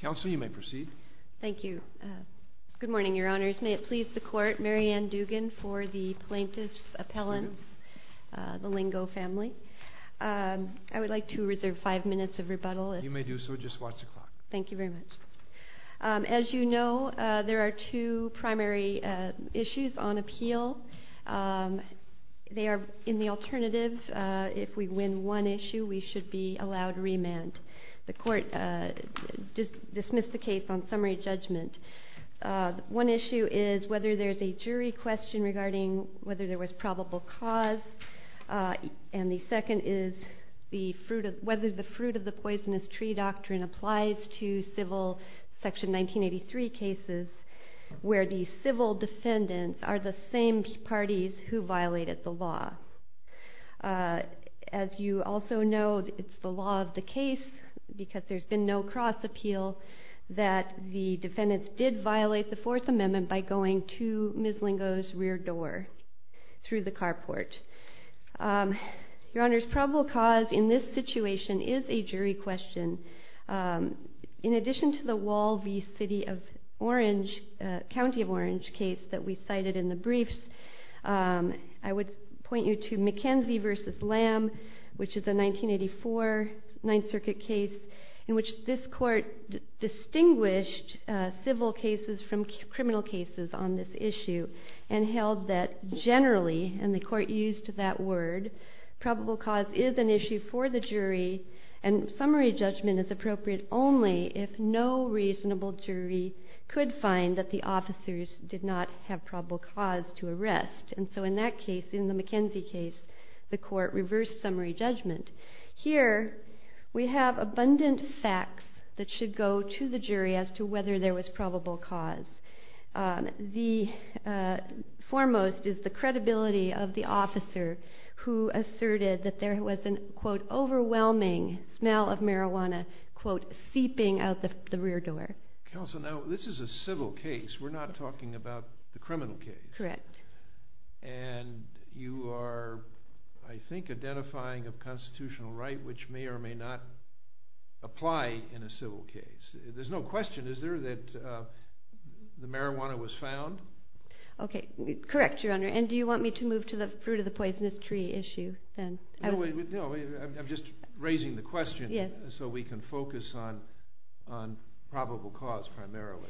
Council, you may proceed. Thank you. Good morning, Your Honors. May it please the Court, Mary Ann Dugan, for the Plaintiff's Appellants, the Lingo family. I would like to reserve five minutes of rebuttal. You may do so, just watch the clock. Thank you very much. As you know, there are two primary issues on appeal. They are in the alternative. If we win one issue, we should be allowed remand. The Court, dismiss the case on summary judgment. One issue is whether there is a jury question regarding whether there was probable cause. And the second is whether the fruit of the poisonous tree doctrine applies to civil section 1983 cases where the civil defendants are the same parties who violated the law. As you also know, it's the law of the case, because there's been no cross appeal, that the defendants did violate the Fourth Amendment by going to Ms. Lingo's rear door through the carport. Your Honor, probable cause in this situation is a jury question. In addition to the Wall v. City of Orange, County of Orange case that we cited in the briefs, I would point you to McKenzie v. Lamb, which is a 1984 Ninth Circuit case in which this court distinguished civil cases from criminal cases on this issue and held that generally, and the court used that word, probable cause is an issue for the jury and summary judgment is appropriate only if no reasonable jury could find that the officers did not have probable cause to arrest. And so in that case, in the McKenzie case, the court reversed summary judgment. Here, we have abundant facts that should go to the jury as to whether there was probable cause. The foremost is the credibility of the officer who asserted that there was an, quote, overwhelming smell of marijuana, quote, seeping out the rear door. Counsel, now this is a civil case. We're not talking about the criminal case. Correct. And you are, I think, identifying a constitutional right which may or may not apply in a civil case. There's no question, is there, that the marijuana was found? Okay, correct, Your Honor. And do you want me to move to the fruit of the poisonous tree issue then? No, I'm just raising the question so we can focus on probable cause primarily.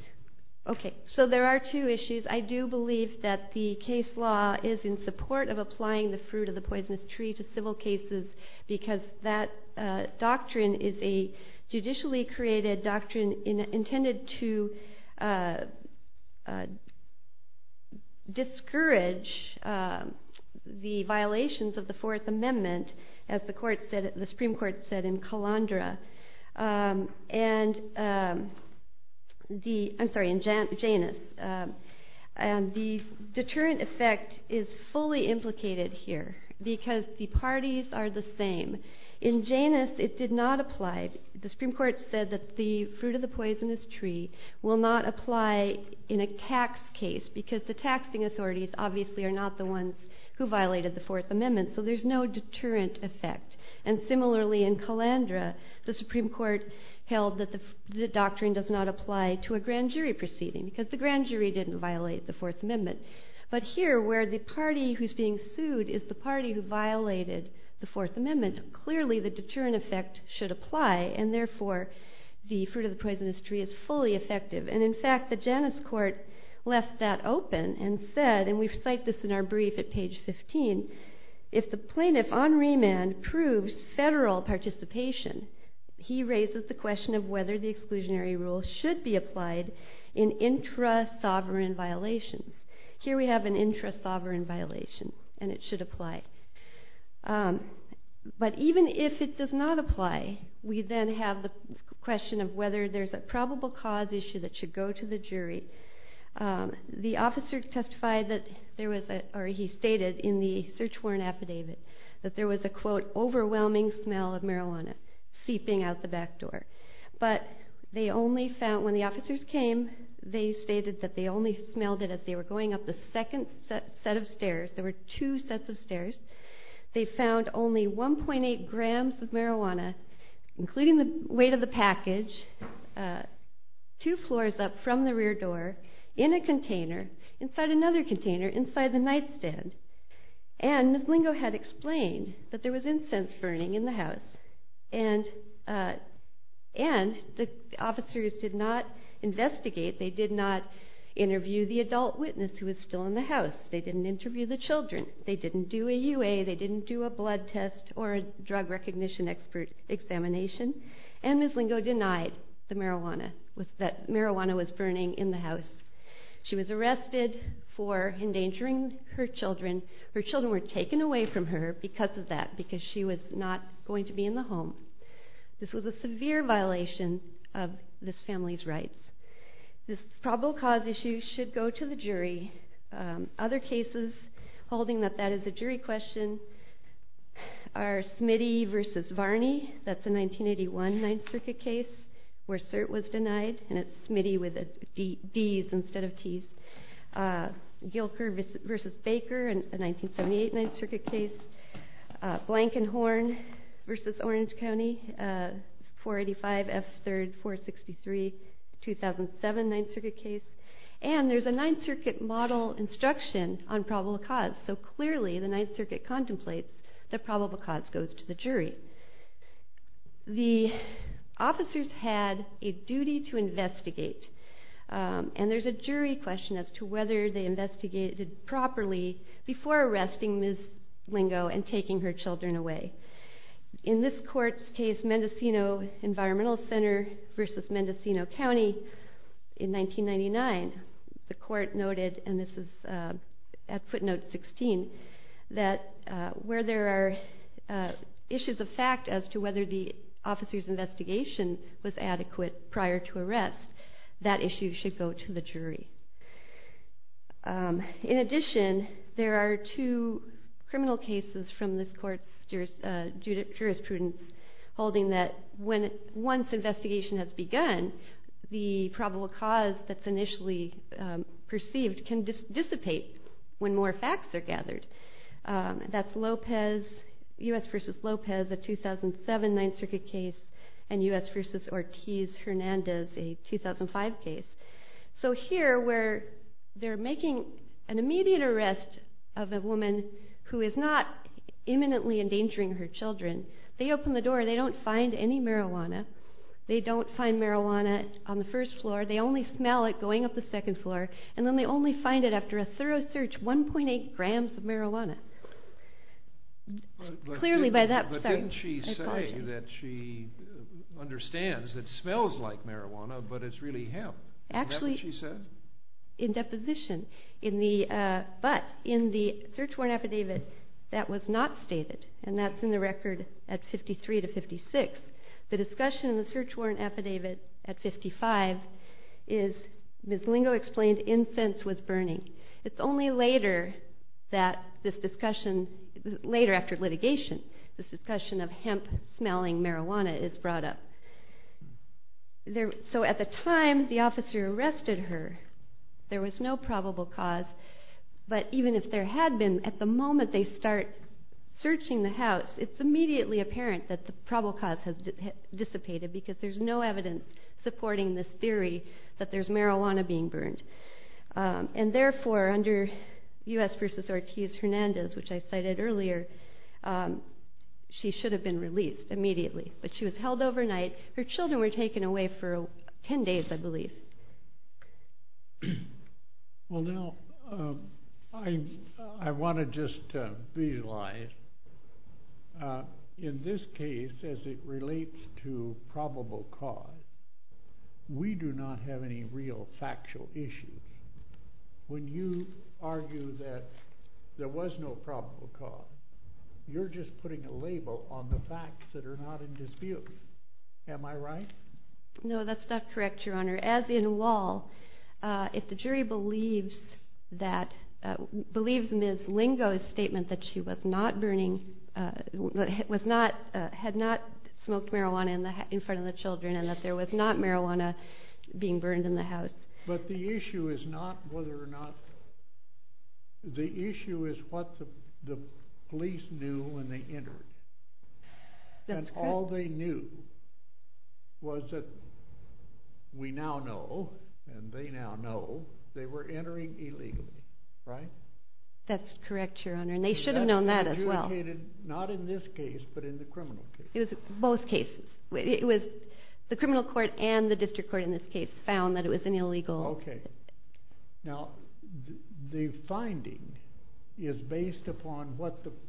Okay, so there are two issues. I do believe that the case law is in support of applying the fruit of the poisonous tree to civil cases because that doctrine is a judicially created doctrine intended to discourage the violations of the Fourth Amendment, as the Supreme Court said in Janus. And the deterrent effect is fully implicated here because the parties are the same. In Janus, it did not apply. The Supreme Court said that the fruit of the poisonous tree will not apply in a tax case because the taxing authorities obviously are not the ones who violated the Fourth Amendment, so there's no deterrent effect. And similarly in Calandra, the Supreme Court held that the doctrine does not apply to a grand jury proceeding because the grand jury didn't violate the Fourth Amendment. But here, where the party who's being sued is the party who violated the should apply and therefore the fruit of the poisonous tree is fully effective. And in fact, the Janus Court left that open and said, and we've cited this in our brief at page 15, if the plaintiff on remand proves federal participation, he raises the question of whether the exclusionary rule should be applied in intra-sovereign violations. Here we have an intra-sovereign violation and it should apply. But even if it does not apply, we then have the question of whether there's a probable cause issue that should go to the jury. The officer testified that there was a, or he stated in the search warrant affidavit, that there was a quote, overwhelming smell of marijuana seeping out the back door. But they only found, when the officers came, they stated that they only smelled it as they were going up the second set of stairs. There were two sets of stairs. They found only 1.8 grams of marijuana, including the weight of the package, two floors up from the rear door, in a container, inside another container, inside the nightstand. And Ms. Blingo had explained that there was incense burning in the house. And the officers did not investigate. They did not interview the adult witness who was still in the house. They didn't interview the children. They didn't do a UA. They didn't do a blood test or a drug recognition examination. And Ms. Blingo denied the marijuana, that marijuana was burning in the house. She was arrested for endangering her children. Her children were taken away from her because of that, because she was not going to be in the home. This was a severe violation of this family's rights. This probable cause issue should go to the jury. Other cases holding that that is a jury question are Smitty v. Varney. That's a 1981 Ninth Circuit case where cert was denied. And it's Smitty with a D instead of T. Gilker v. Baker, a versus Orange County, 485 F. 3rd, 463, 2007 Ninth Circuit case. And there's a Ninth Circuit model instruction on probable cause. So clearly the Ninth Circuit contemplates that probable cause goes to the jury. The officers had a duty to investigate. And there's a jury question as to whether they properly before arresting Ms. Blingo and taking her children away. In this court's case, Mendocino Environmental Center versus Mendocino County in 1999, the court noted, and this is at footnote 16, that where there are issues of fact as to whether the officer's investigation was adequate prior to In addition, there are two criminal cases from this court's jurisprudence holding that once investigation has begun, the probable cause that's initially perceived can dissipate when more facts are gathered. That's Lopez, U.S. v. Lopez, a 2007 Ninth Circuit case, and U.S. v. Ortiz-Hernandez, a immediate arrest of a woman who is not imminently endangering her children. They open the door. They don't find any marijuana. They don't find marijuana on the first floor. They only smell it going up the second floor. And then they only find it after a thorough search, 1.8 grams of marijuana. Clearly by that point, I apologize. But didn't she say that she understands it smells like marijuana, but it's really hemp? Is that what she said? Actually, in deposition. But in the search warrant affidavit, that was not stated. And that's in the record at 53 to 56. The discussion in the search warrant affidavit at 55 is Ms. Lingo explained incense was burning. It's only later that this discussion, later after litigation, this discussion of hemp smelling marijuana is brought up. So at the time the officer arrested her, there was no probable cause. But even if there had been, at the moment they start searching the house, it's immediately apparent that the probable cause has dissipated because there's no evidence supporting this theory that there's marijuana being burned. And therefore, under U.S. v. Ortiz-Hernandez, which I cited earlier, she should have been 10 days, I believe. Well, now, I want to just visualize. In this case, as it relates to probable cause, we do not have any real factual issues. When you argue that there was no probable cause, you're just putting a label on the facts that are not in dispute. Am I right? No, that's not correct, Your Honor. As in Wall, if the jury believes that, believes Ms. Lingo's statement that she was not burning, was not, had not smoked marijuana in front of the children and that there was not police knew when they entered. And all they knew was that we now know, and they now know, they were entering illegally, right? That's correct, Your Honor, and they should have known that as well. Not in this case, but in the criminal case. It was both cases. It was the criminal court and the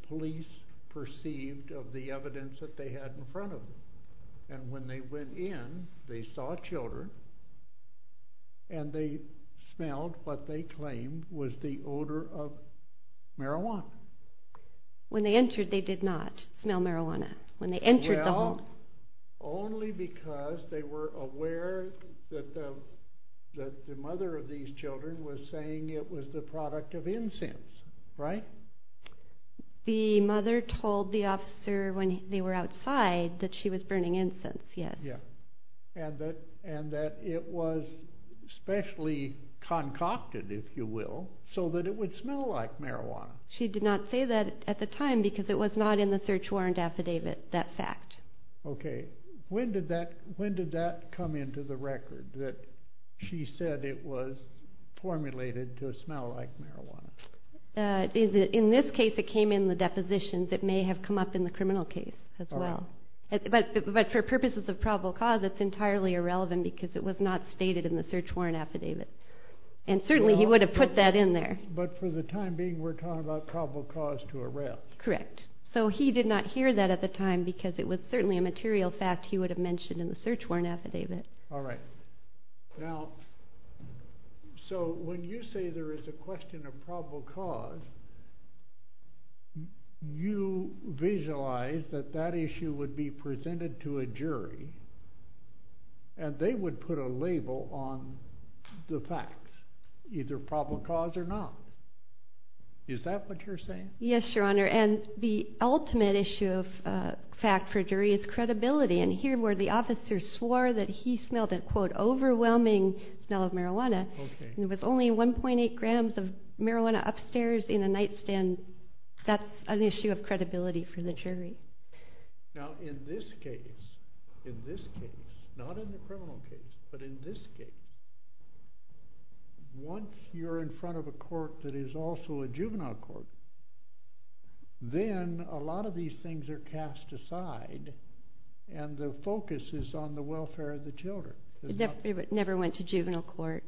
police perceived of the evidence that they had in front of them. And when they went in, they saw children, and they smelled what they claimed was the odor of marijuana. When they entered, they did not smell marijuana. When they entered the home... Well, only because they were aware that the mother of these told the officer when they were outside that she was burning incense, yes. And that it was specially concocted, if you will, so that it would smell like marijuana. She did not say that at the time because it was not in the search warrant affidavit, that fact. Okay, when did that come into the record, that she said it was formulated to smell like marijuana? In this case, it came in the depositions. It may have come up in the criminal case as well. But for purposes of probable cause, it's entirely irrelevant because it was not stated in the search warrant affidavit. And certainly, he would have put that in there. But for the time being, we're talking about probable cause to arrest. Correct. So he did not hear that at the time because it was certainly a So when you say there is a question of probable cause, you visualize that that issue would be presented to a jury, and they would put a label on the facts, either probable cause or not. Is that what you're saying? Yes, Your Honor. And the ultimate issue of fact for jury is credibility. And here, where the officer swore that he smelled a, quote, overwhelming smell of marijuana, and it was only 1.8 grams of marijuana upstairs in a nightstand, that's an issue of credibility for the jury. Now, in this case, in this case, not in the criminal case, but in this case, once you're in front of a court that is also a juvenile court, then a lot of these things are cast aside, and the focus is on the welfare of the children. But it never went to juvenile court.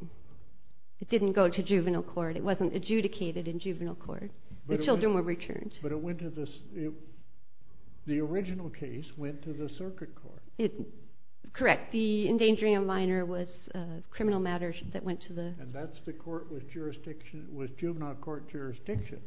It didn't go to juvenile court. It wasn't adjudicated in juvenile court. The children were returned. But it went to the, the original case went to the circuit court. Correct. The endangering a minor was a criminal matter that went to the And that's the court with jurisdiction, with juvenile court jurisdiction.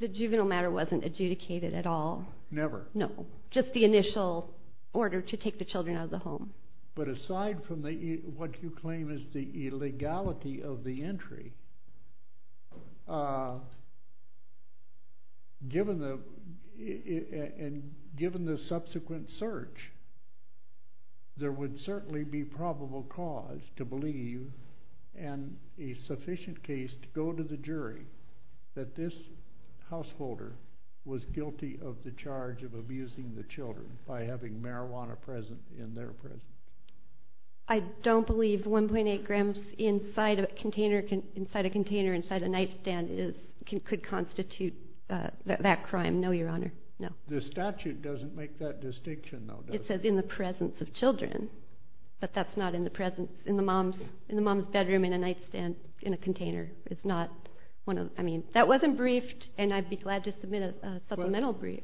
The juvenile matter wasn't adjudicated at all. Never? No. Just the initial order to take the children out of the home. But aside from the, what you claim is the illegality of the entry, given the, and given the subsequent search, there would certainly be probable cause to believe in a sufficient case to go to the jury that this householder was guilty of the charge of abusing the children by having marijuana present in their presence. I don't believe 1.8 grams inside a container, inside a container, inside a nightstand is, could constitute that crime. No, Your Honor. No. The statute doesn't make that distinction, though, does it? It says in the presence of children, but that's not in the presence, in the mom's bedroom, in a nightstand, in a container. It's not one of, I mean, that wasn't briefed, and I'd be glad to submit a supplemental brief.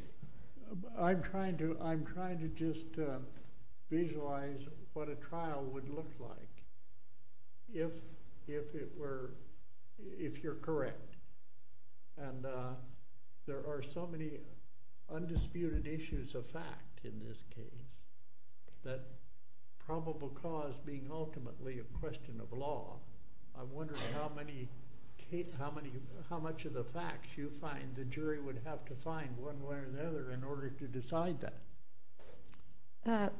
I'm trying to, I'm trying to just visualize what a trial would look like if, if it were, if you're correct. And there are so many undisputed issues of law. I'm wondering how many, how many, how much of the facts you find the jury would have to find one way or the other in order to decide that?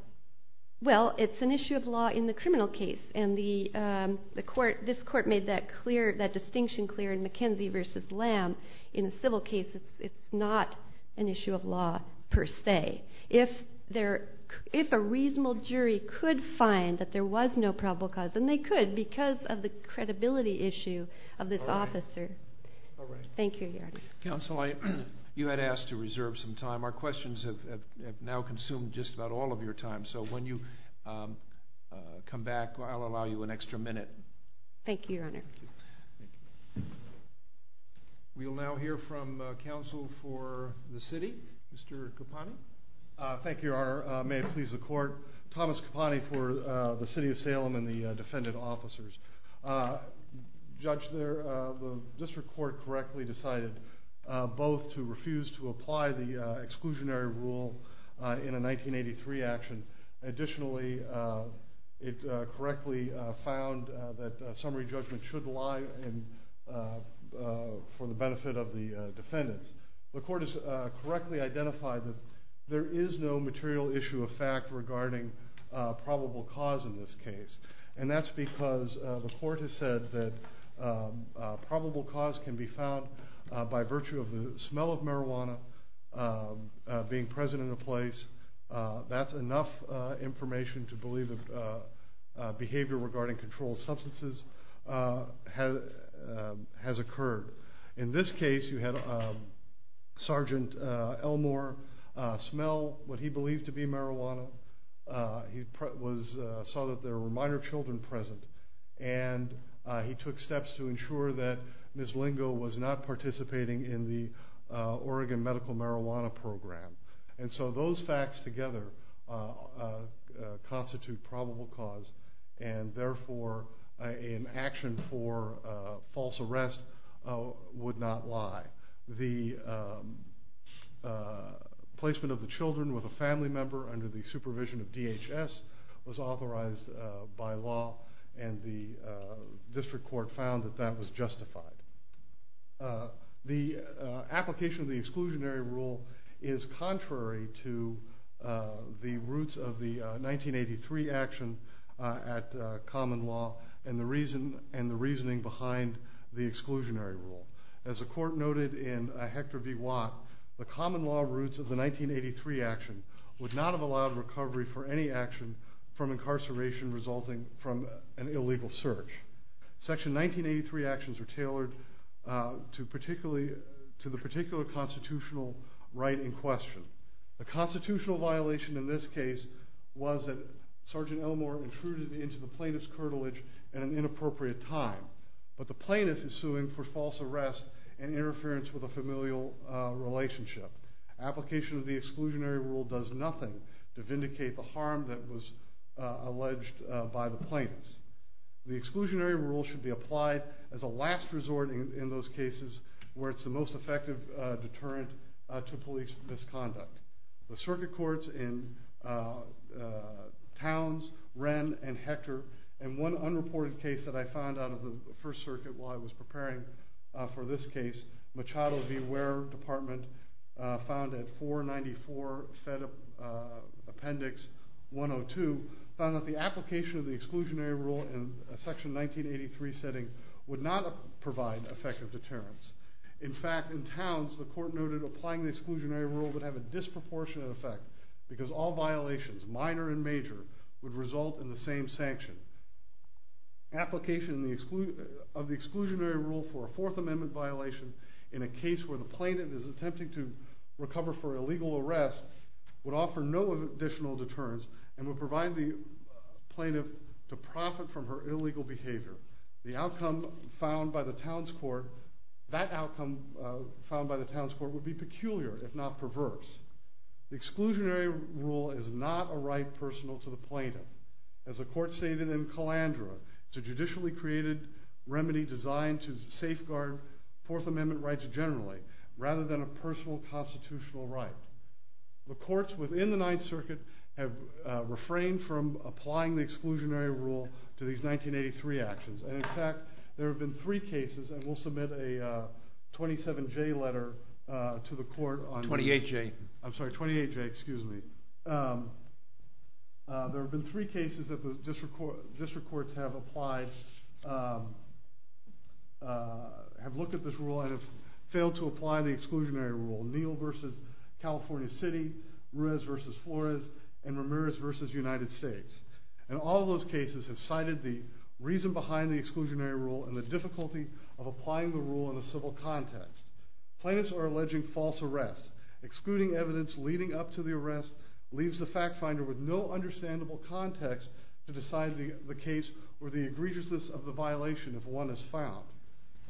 Well, it's an issue of law in the criminal case, and the, the court, this court made that clear, that distinction clear in McKenzie versus Lamb. In a civil case, it's, it's not an issue of law per se. If there, if a reasonable jury could find that there was no probable cause, and they could because of the credibility issue of this officer. All right. Thank you, Your Honor. Counsel, I, you had asked to reserve some time. Our questions have, have now consumed just about all of your time, so when you come back, I'll allow you an opportunity to respond. Thank you, Your Honor. May it please the court. Thomas Caponte for the City of Salem and the defendant officers. Judge, the district court correctly decided both to refuse to apply the exclusionary rule in a 1983 action. Additionally, it correctly found that summary judgment should lie in, for the benefit of the jury. There is no material issue of fact regarding probable cause in this case, and that's because the court has said that probable cause can be found by virtue of the smell of marijuana being present in the place. That's enough information to believe that behavior regarding controlled substances has, has occurred. In this case, you had Sergeant Elmore smell what he believed to be marijuana. He was, saw that there were minor children present, and he took steps to ensure that Ms. Lingo was not participating in the Oregon false arrest would not lie. The placement of the children with a family member under the supervision of DHS was authorized by law, and the district court found that that was justified. The application of the exclusionary rule is contrary to the roots of the 1983 action at common law and the reasoning behind the exclusionary rule. As the court noted in Hector B. Watt, the common law roots of the 1983 action would not have allowed recovery for any action from incarceration resulting from an illegal search. Section 1983 actions are tailored to the particular constitutional right in question. The constitutional violation in this case was that Sergeant Elmore intruded into the plaintiff's curtilage at an inappropriate time, but the plaintiff is suing for false arrest and interference with a familial relationship. The application of the exclusionary rule does nothing to vindicate the harm that was alleged by the plaintiffs. The exclusionary rule should be applied as a last resort in those cases where it's the most effective deterrent to police misconduct. The circuit courts in Towns, Wren, and Hector, and one unreported case that I found out of the First Circuit while I was preparing for this case, Machado v. Ware Department, found at 494 Fed Appendix 102, found that the application of the exclusionary rule in a Section 1983 setting would not provide effective deterrence. In fact, in Towns, the court noted applying the exclusionary rule would have a disproportionate effect because all violations, minor and major, would result in the same sanction. Application of the exclusionary rule for a Fourth Amendment violation in a case where the plaintiff is attempting to recover for illegal arrest would offer no additional deterrence and would provide the plaintiff to profit from her illegal behavior. The outcome found by the Towns Court would be peculiar, if not perverse. The exclusionary rule is not a right personal to the plaintiff. As the court stated in Calandra, it's a judicially created remedy designed to safeguard Fourth Amendment rights generally, rather than a personal constitutional right. The courts within the Ninth Circuit have refrained from applying the exclusionary rule to these 1983 actions. In fact, there have been three cases, and we'll submit a 27J letter to the court on this. There have been three cases that the District Courts have looked at this rule and have failed to apply the exclusionary rule. Neal v. California City, Ruiz v. Flores, and Ramirez v. United States. And all those cases have cited the reason behind the exclusionary rule and the difficulty of applying the rule in a civil context. Plaintiffs are alleging false arrest. Excluding evidence leading up to the arrest leaves the fact finder with no understandable context to decide the case or the egregiousness of the violation if one is found.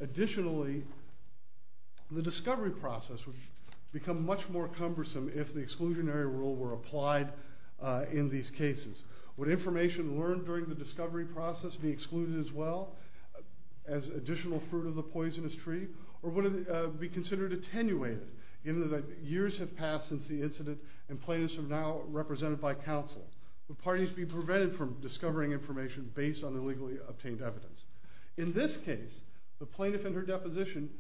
Additionally, the discovery process would become much more cumbersome if the exclusionary rule were applied in these cases. Would information learned during the discovery process be excluded as well as additional fruit of the poisonous tree, or would it be considered attenuated given that years have passed since the incident and plaintiffs are now represented by counsel? Would parties be prevented from discovering information based on illegally obtained evidence? In this case, the plaintiff in her deposition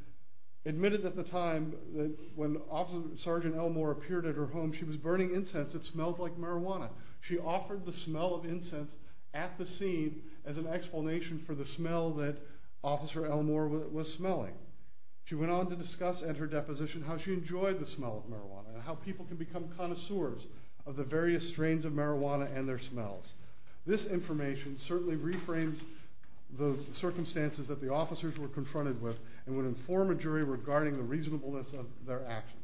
admitted at the time that when Officer Sgt. Elmore appeared at her home she was burning incense that smelled like marijuana. She offered the smell of incense at the scene as an explanation for the smell that Officer Elmore was smelling. She went on to discuss at her deposition how she enjoyed the smell of marijuana and how people can become connoisseurs of the various strains of marijuana and their smells. This information certainly reframes the circumstances that the officers were confronted with and would inform a jury regarding the reasonableness of their actions.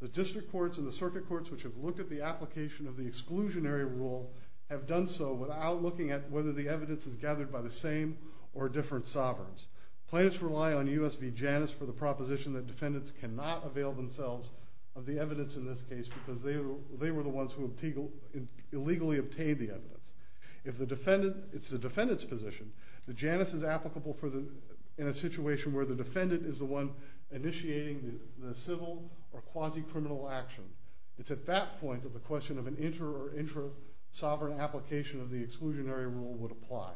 The district courts and the circuit courts which have looked at the application of the exclusionary rule have done so without looking at whether the evidence is gathered by the same or different sovereigns. Plaintiffs rely on U.S. v. Janus for the proposition that defendants cannot avail themselves of the evidence in this case because they were the ones who illegally obtained the evidence. If it's the defendant's position, the Janus is applicable in a situation where the defendant is the one initiating the civil or quasi-criminal action. It's at that point that the question of an inter or intra-sovereign application of the exclusionary rule would apply.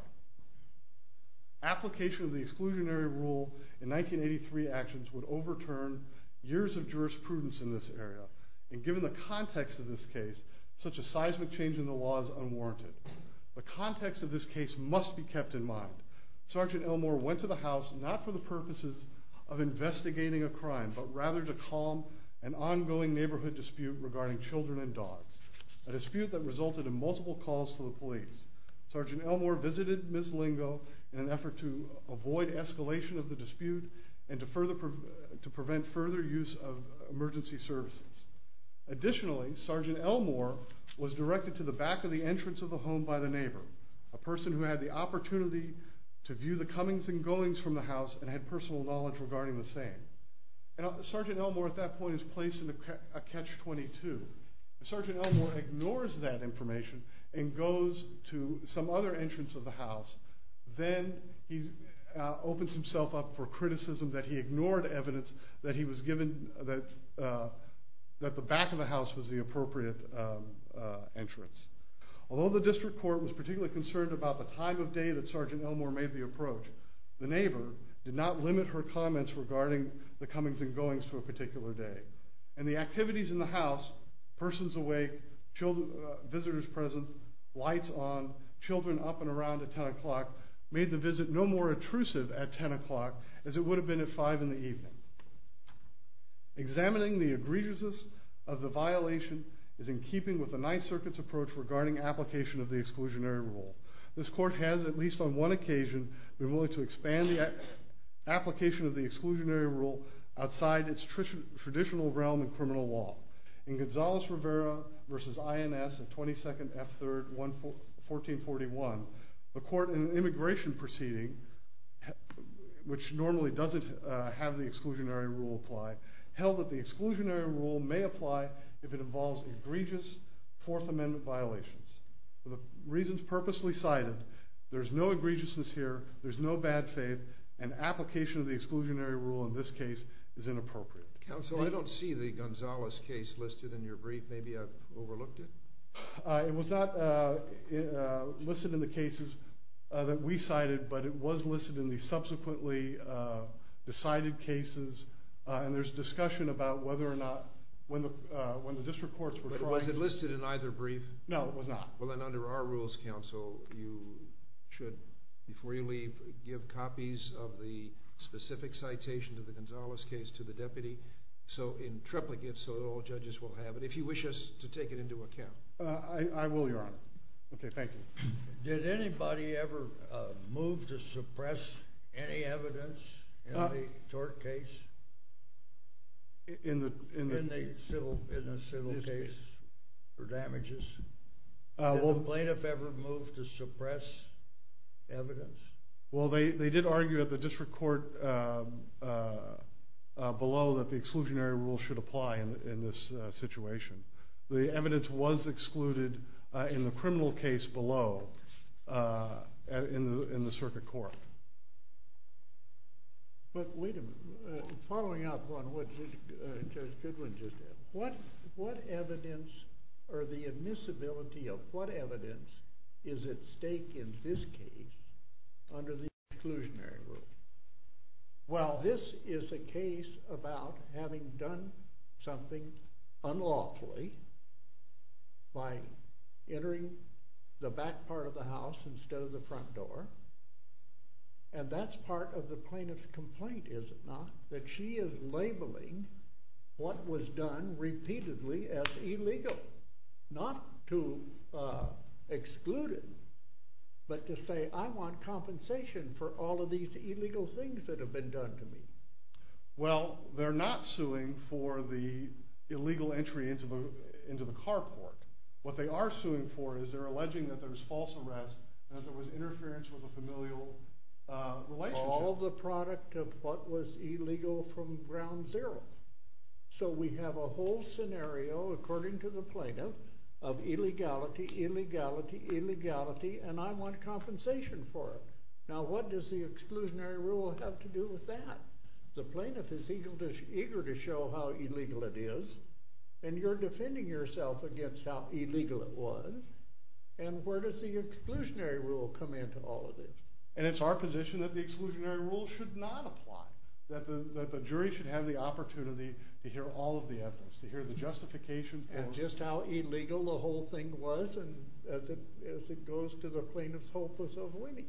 Application of the exclusionary rule in 1983 actions would overturn years of jurisprudence in this area and given the context of this case, such a seismic change in the law is unwarranted. The context of this case must be kept in mind. Sergeant Elmore went to the house not for the purposes of investigating a crime but rather to calm an ongoing neighborhood dispute regarding children and dogs, a dispute that resulted in multiple calls to the police. Sergeant Elmore visited Ms. Lingo in an effort to avoid escalation of the dispute and to prevent further use of emergency services. Additionally, Sergeant Elmore was directed to the back of the entrance of the home by the neighbor, a person who had the opportunity to view the comings and goings from the house and had personal knowledge regarding the same. Sergeant Elmore at that point is placed in a catch-22. Sergeant Elmore ignores that information and goes to some other entrance of the house. Then he opens himself up for criticism that he ignored evidence that the back of the house was the appropriate entrance. Although the district court was particularly concerned about the time of day that Sergeant Elmore made the approach, the neighbor did not limit her comments regarding the comings and goings to a particular day. And the activities in the house, persons awake, visitors present, lights on, children up and around at 10 o'clock, made the visit no more intrusive at 10 o'clock as it would have been at 5 in the evening. Examining the egregiousness of the violation is in keeping with the Ninth Circuit's approach regarding application of the exclusionary rule. This court has, at least on one occasion, been willing to expand the application of the exclusionary rule outside its traditional realm in criminal law. In Gonzalez-Rivera v. INS at 22nd F. 3rd, 1441, the court in an immigration proceeding, which normally doesn't have the exclusionary rule applied, held that the exclusionary rule may apply if it involves egregious Fourth Amendment violations. For the reasons purposely cited, there's no egregiousness here, there's no bad faith, and application of the exclusionary rule in this case is inappropriate. Counsel, I don't see the Gonzalez case listed in your brief. Maybe I've overlooked it? It was not listed in the cases that we cited, but it was listed in the subsequently decided cases, and there's discussion about whether or not, when the district courts were trying to... But was it listed in either brief? No, it was not. Well, then under our rules, counsel, you should, before you leave, give copies of the specific citation to the Gonzalez case to the deputy, so in triplicate, so that all judges will have it, if you wish us to take it into account. I will, Your Honor. Okay, thank you. Did anybody ever move to suppress any evidence in the tort case? In the... In the civil case for damages? Did the plaintiff ever move to suppress evidence? Well, they did argue at the district court below that the exclusionary rule should apply in this situation. The evidence was excluded in the criminal case below, in the circuit court. But wait a minute. Following up on what Judge Goodwin just said, what evidence or the admissibility of what evidence is at stake in this case under the exclusionary rule? Well, this is a case about having done something unlawfully by entering the back part of the house instead of the front door, and that's part of the plaintiff's complaint, is it not? That she is labeling what was done repeatedly as illegal, not to exclude it, but to say, I want compensation for all of these illegal things that have been done to me. Well, they're not suing for the illegal entry into the carport. What they are suing for is they're alleging that there was false arrest and that there was interference with a familial relationship. All the product of what was illegal from ground zero. So we have a whole scenario, according to the plaintiff, of illegality, illegality, illegality, and I want compensation for it. Now, what does the exclusionary rule have to do with that? The plaintiff is eager to show how illegal it is, and you're defending yourself against how illegal it was, and where does the exclusionary rule come into all of this? And it's our position that the exclusionary rule should not apply, that the jury should have the opportunity to hear all of the evidence, to hear the justification. And just how illegal the whole thing was as it goes to the plaintiff's hopeless avoiding.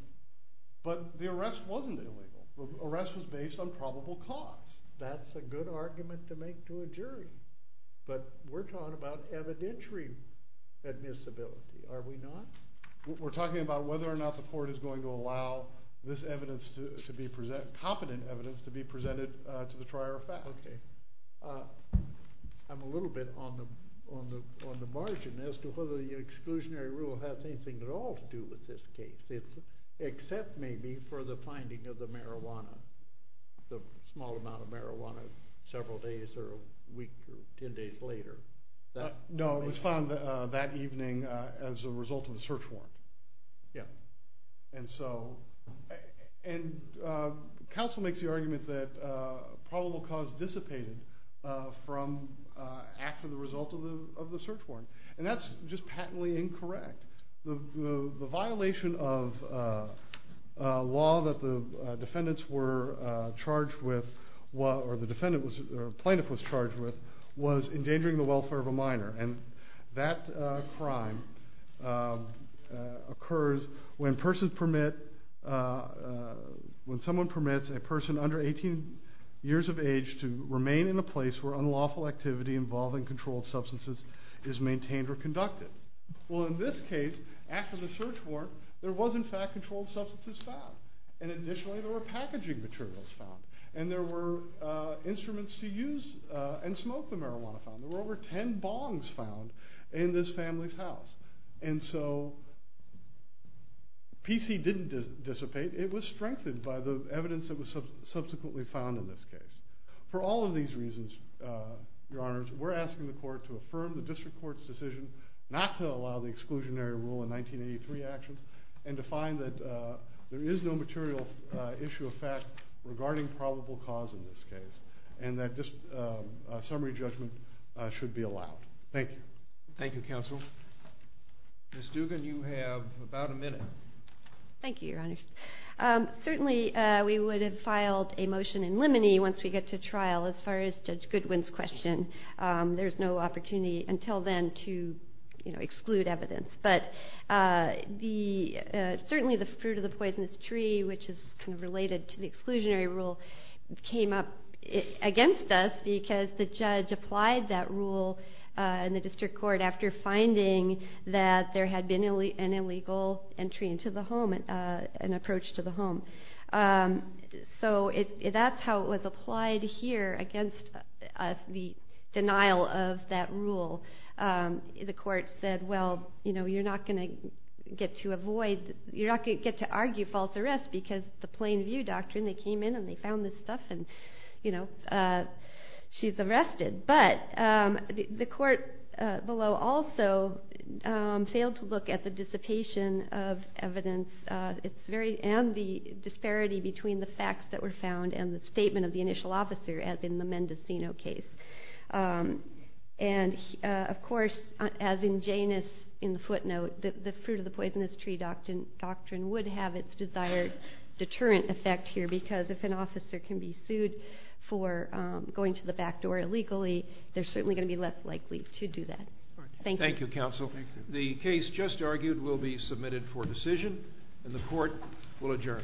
But the arrest wasn't illegal. The arrest was based on probable cause. That's a good argument to make to a jury, but we're talking about evidentiary admissibility, are we not? We're talking about whether or not the court is going to allow competent evidence to be presented to the trier of facts. Okay. I'm a little bit on the margin as to whether the exclusionary rule has anything at all to do with this case, except maybe for the finding of the marijuana, the small amount of marijuana several days or a week or ten days later. No, it was found that evening as a result of the search warrant. And so, and counsel makes the argument that probable cause dissipated from after the result of the search warrant, and that's just patently incorrect. The violation of law that the defendants were charged with, or the plaintiff was charged with, was endangering the welfare of a minor. And that crime occurs when someone permits a person under 18 years of age to remain in a place where unlawful activity involving controlled substances is maintained or conducted. Well, in this case, after the search warrant, there was in fact controlled substances found. And additionally, there were packaging materials found. And there were instruments to use and smoke the marijuana found. There were over ten bongs found in this family's house. And so, PC didn't dissipate. It was strengthened by the evidence that was subsequently found in this case. For all of these reasons, Your Honors, we're asking the court to affirm the district court's decision not to allow the exclusionary rule in 1983 actions, and to find that there is no material issue of fact regarding probable cause in this case, and that a summary judgment should be allowed. Thank you. Thank you, counsel. Ms. Dugan, you have about a minute. Thank you, Your Honors. Certainly, we would have filed a motion in limine once we get to trial as far as Judge Goodwin's question. There's no opportunity until then to exclude evidence. But certainly, the fruit of the poisonous tree, which is kind of related to the exclusionary rule, came up against us because the judge applied that rule in the district court after finding that there had been an illegal entry into the home, an approach to the home. So that's how it was applied here against the denial of that rule. The court said, well, you're not going to get to argue false arrest because of the plain view doctrine. They came in, and they found this stuff, and she's arrested. But the court below also failed to look at the dissipation of evidence and the disparity between the facts that were found and the statement of the initial officer, as in the Mendocino case. And, of course, as in Janus in the footnote, the fruit of the poisonous tree doctrine would have its desired deterrent effect here because if an officer can be sued for going to the back door illegally, they're certainly going to be less likely to do that. Thank you. Thank you, Counsel. The case just argued will be submitted for decision, and the court will adjourn.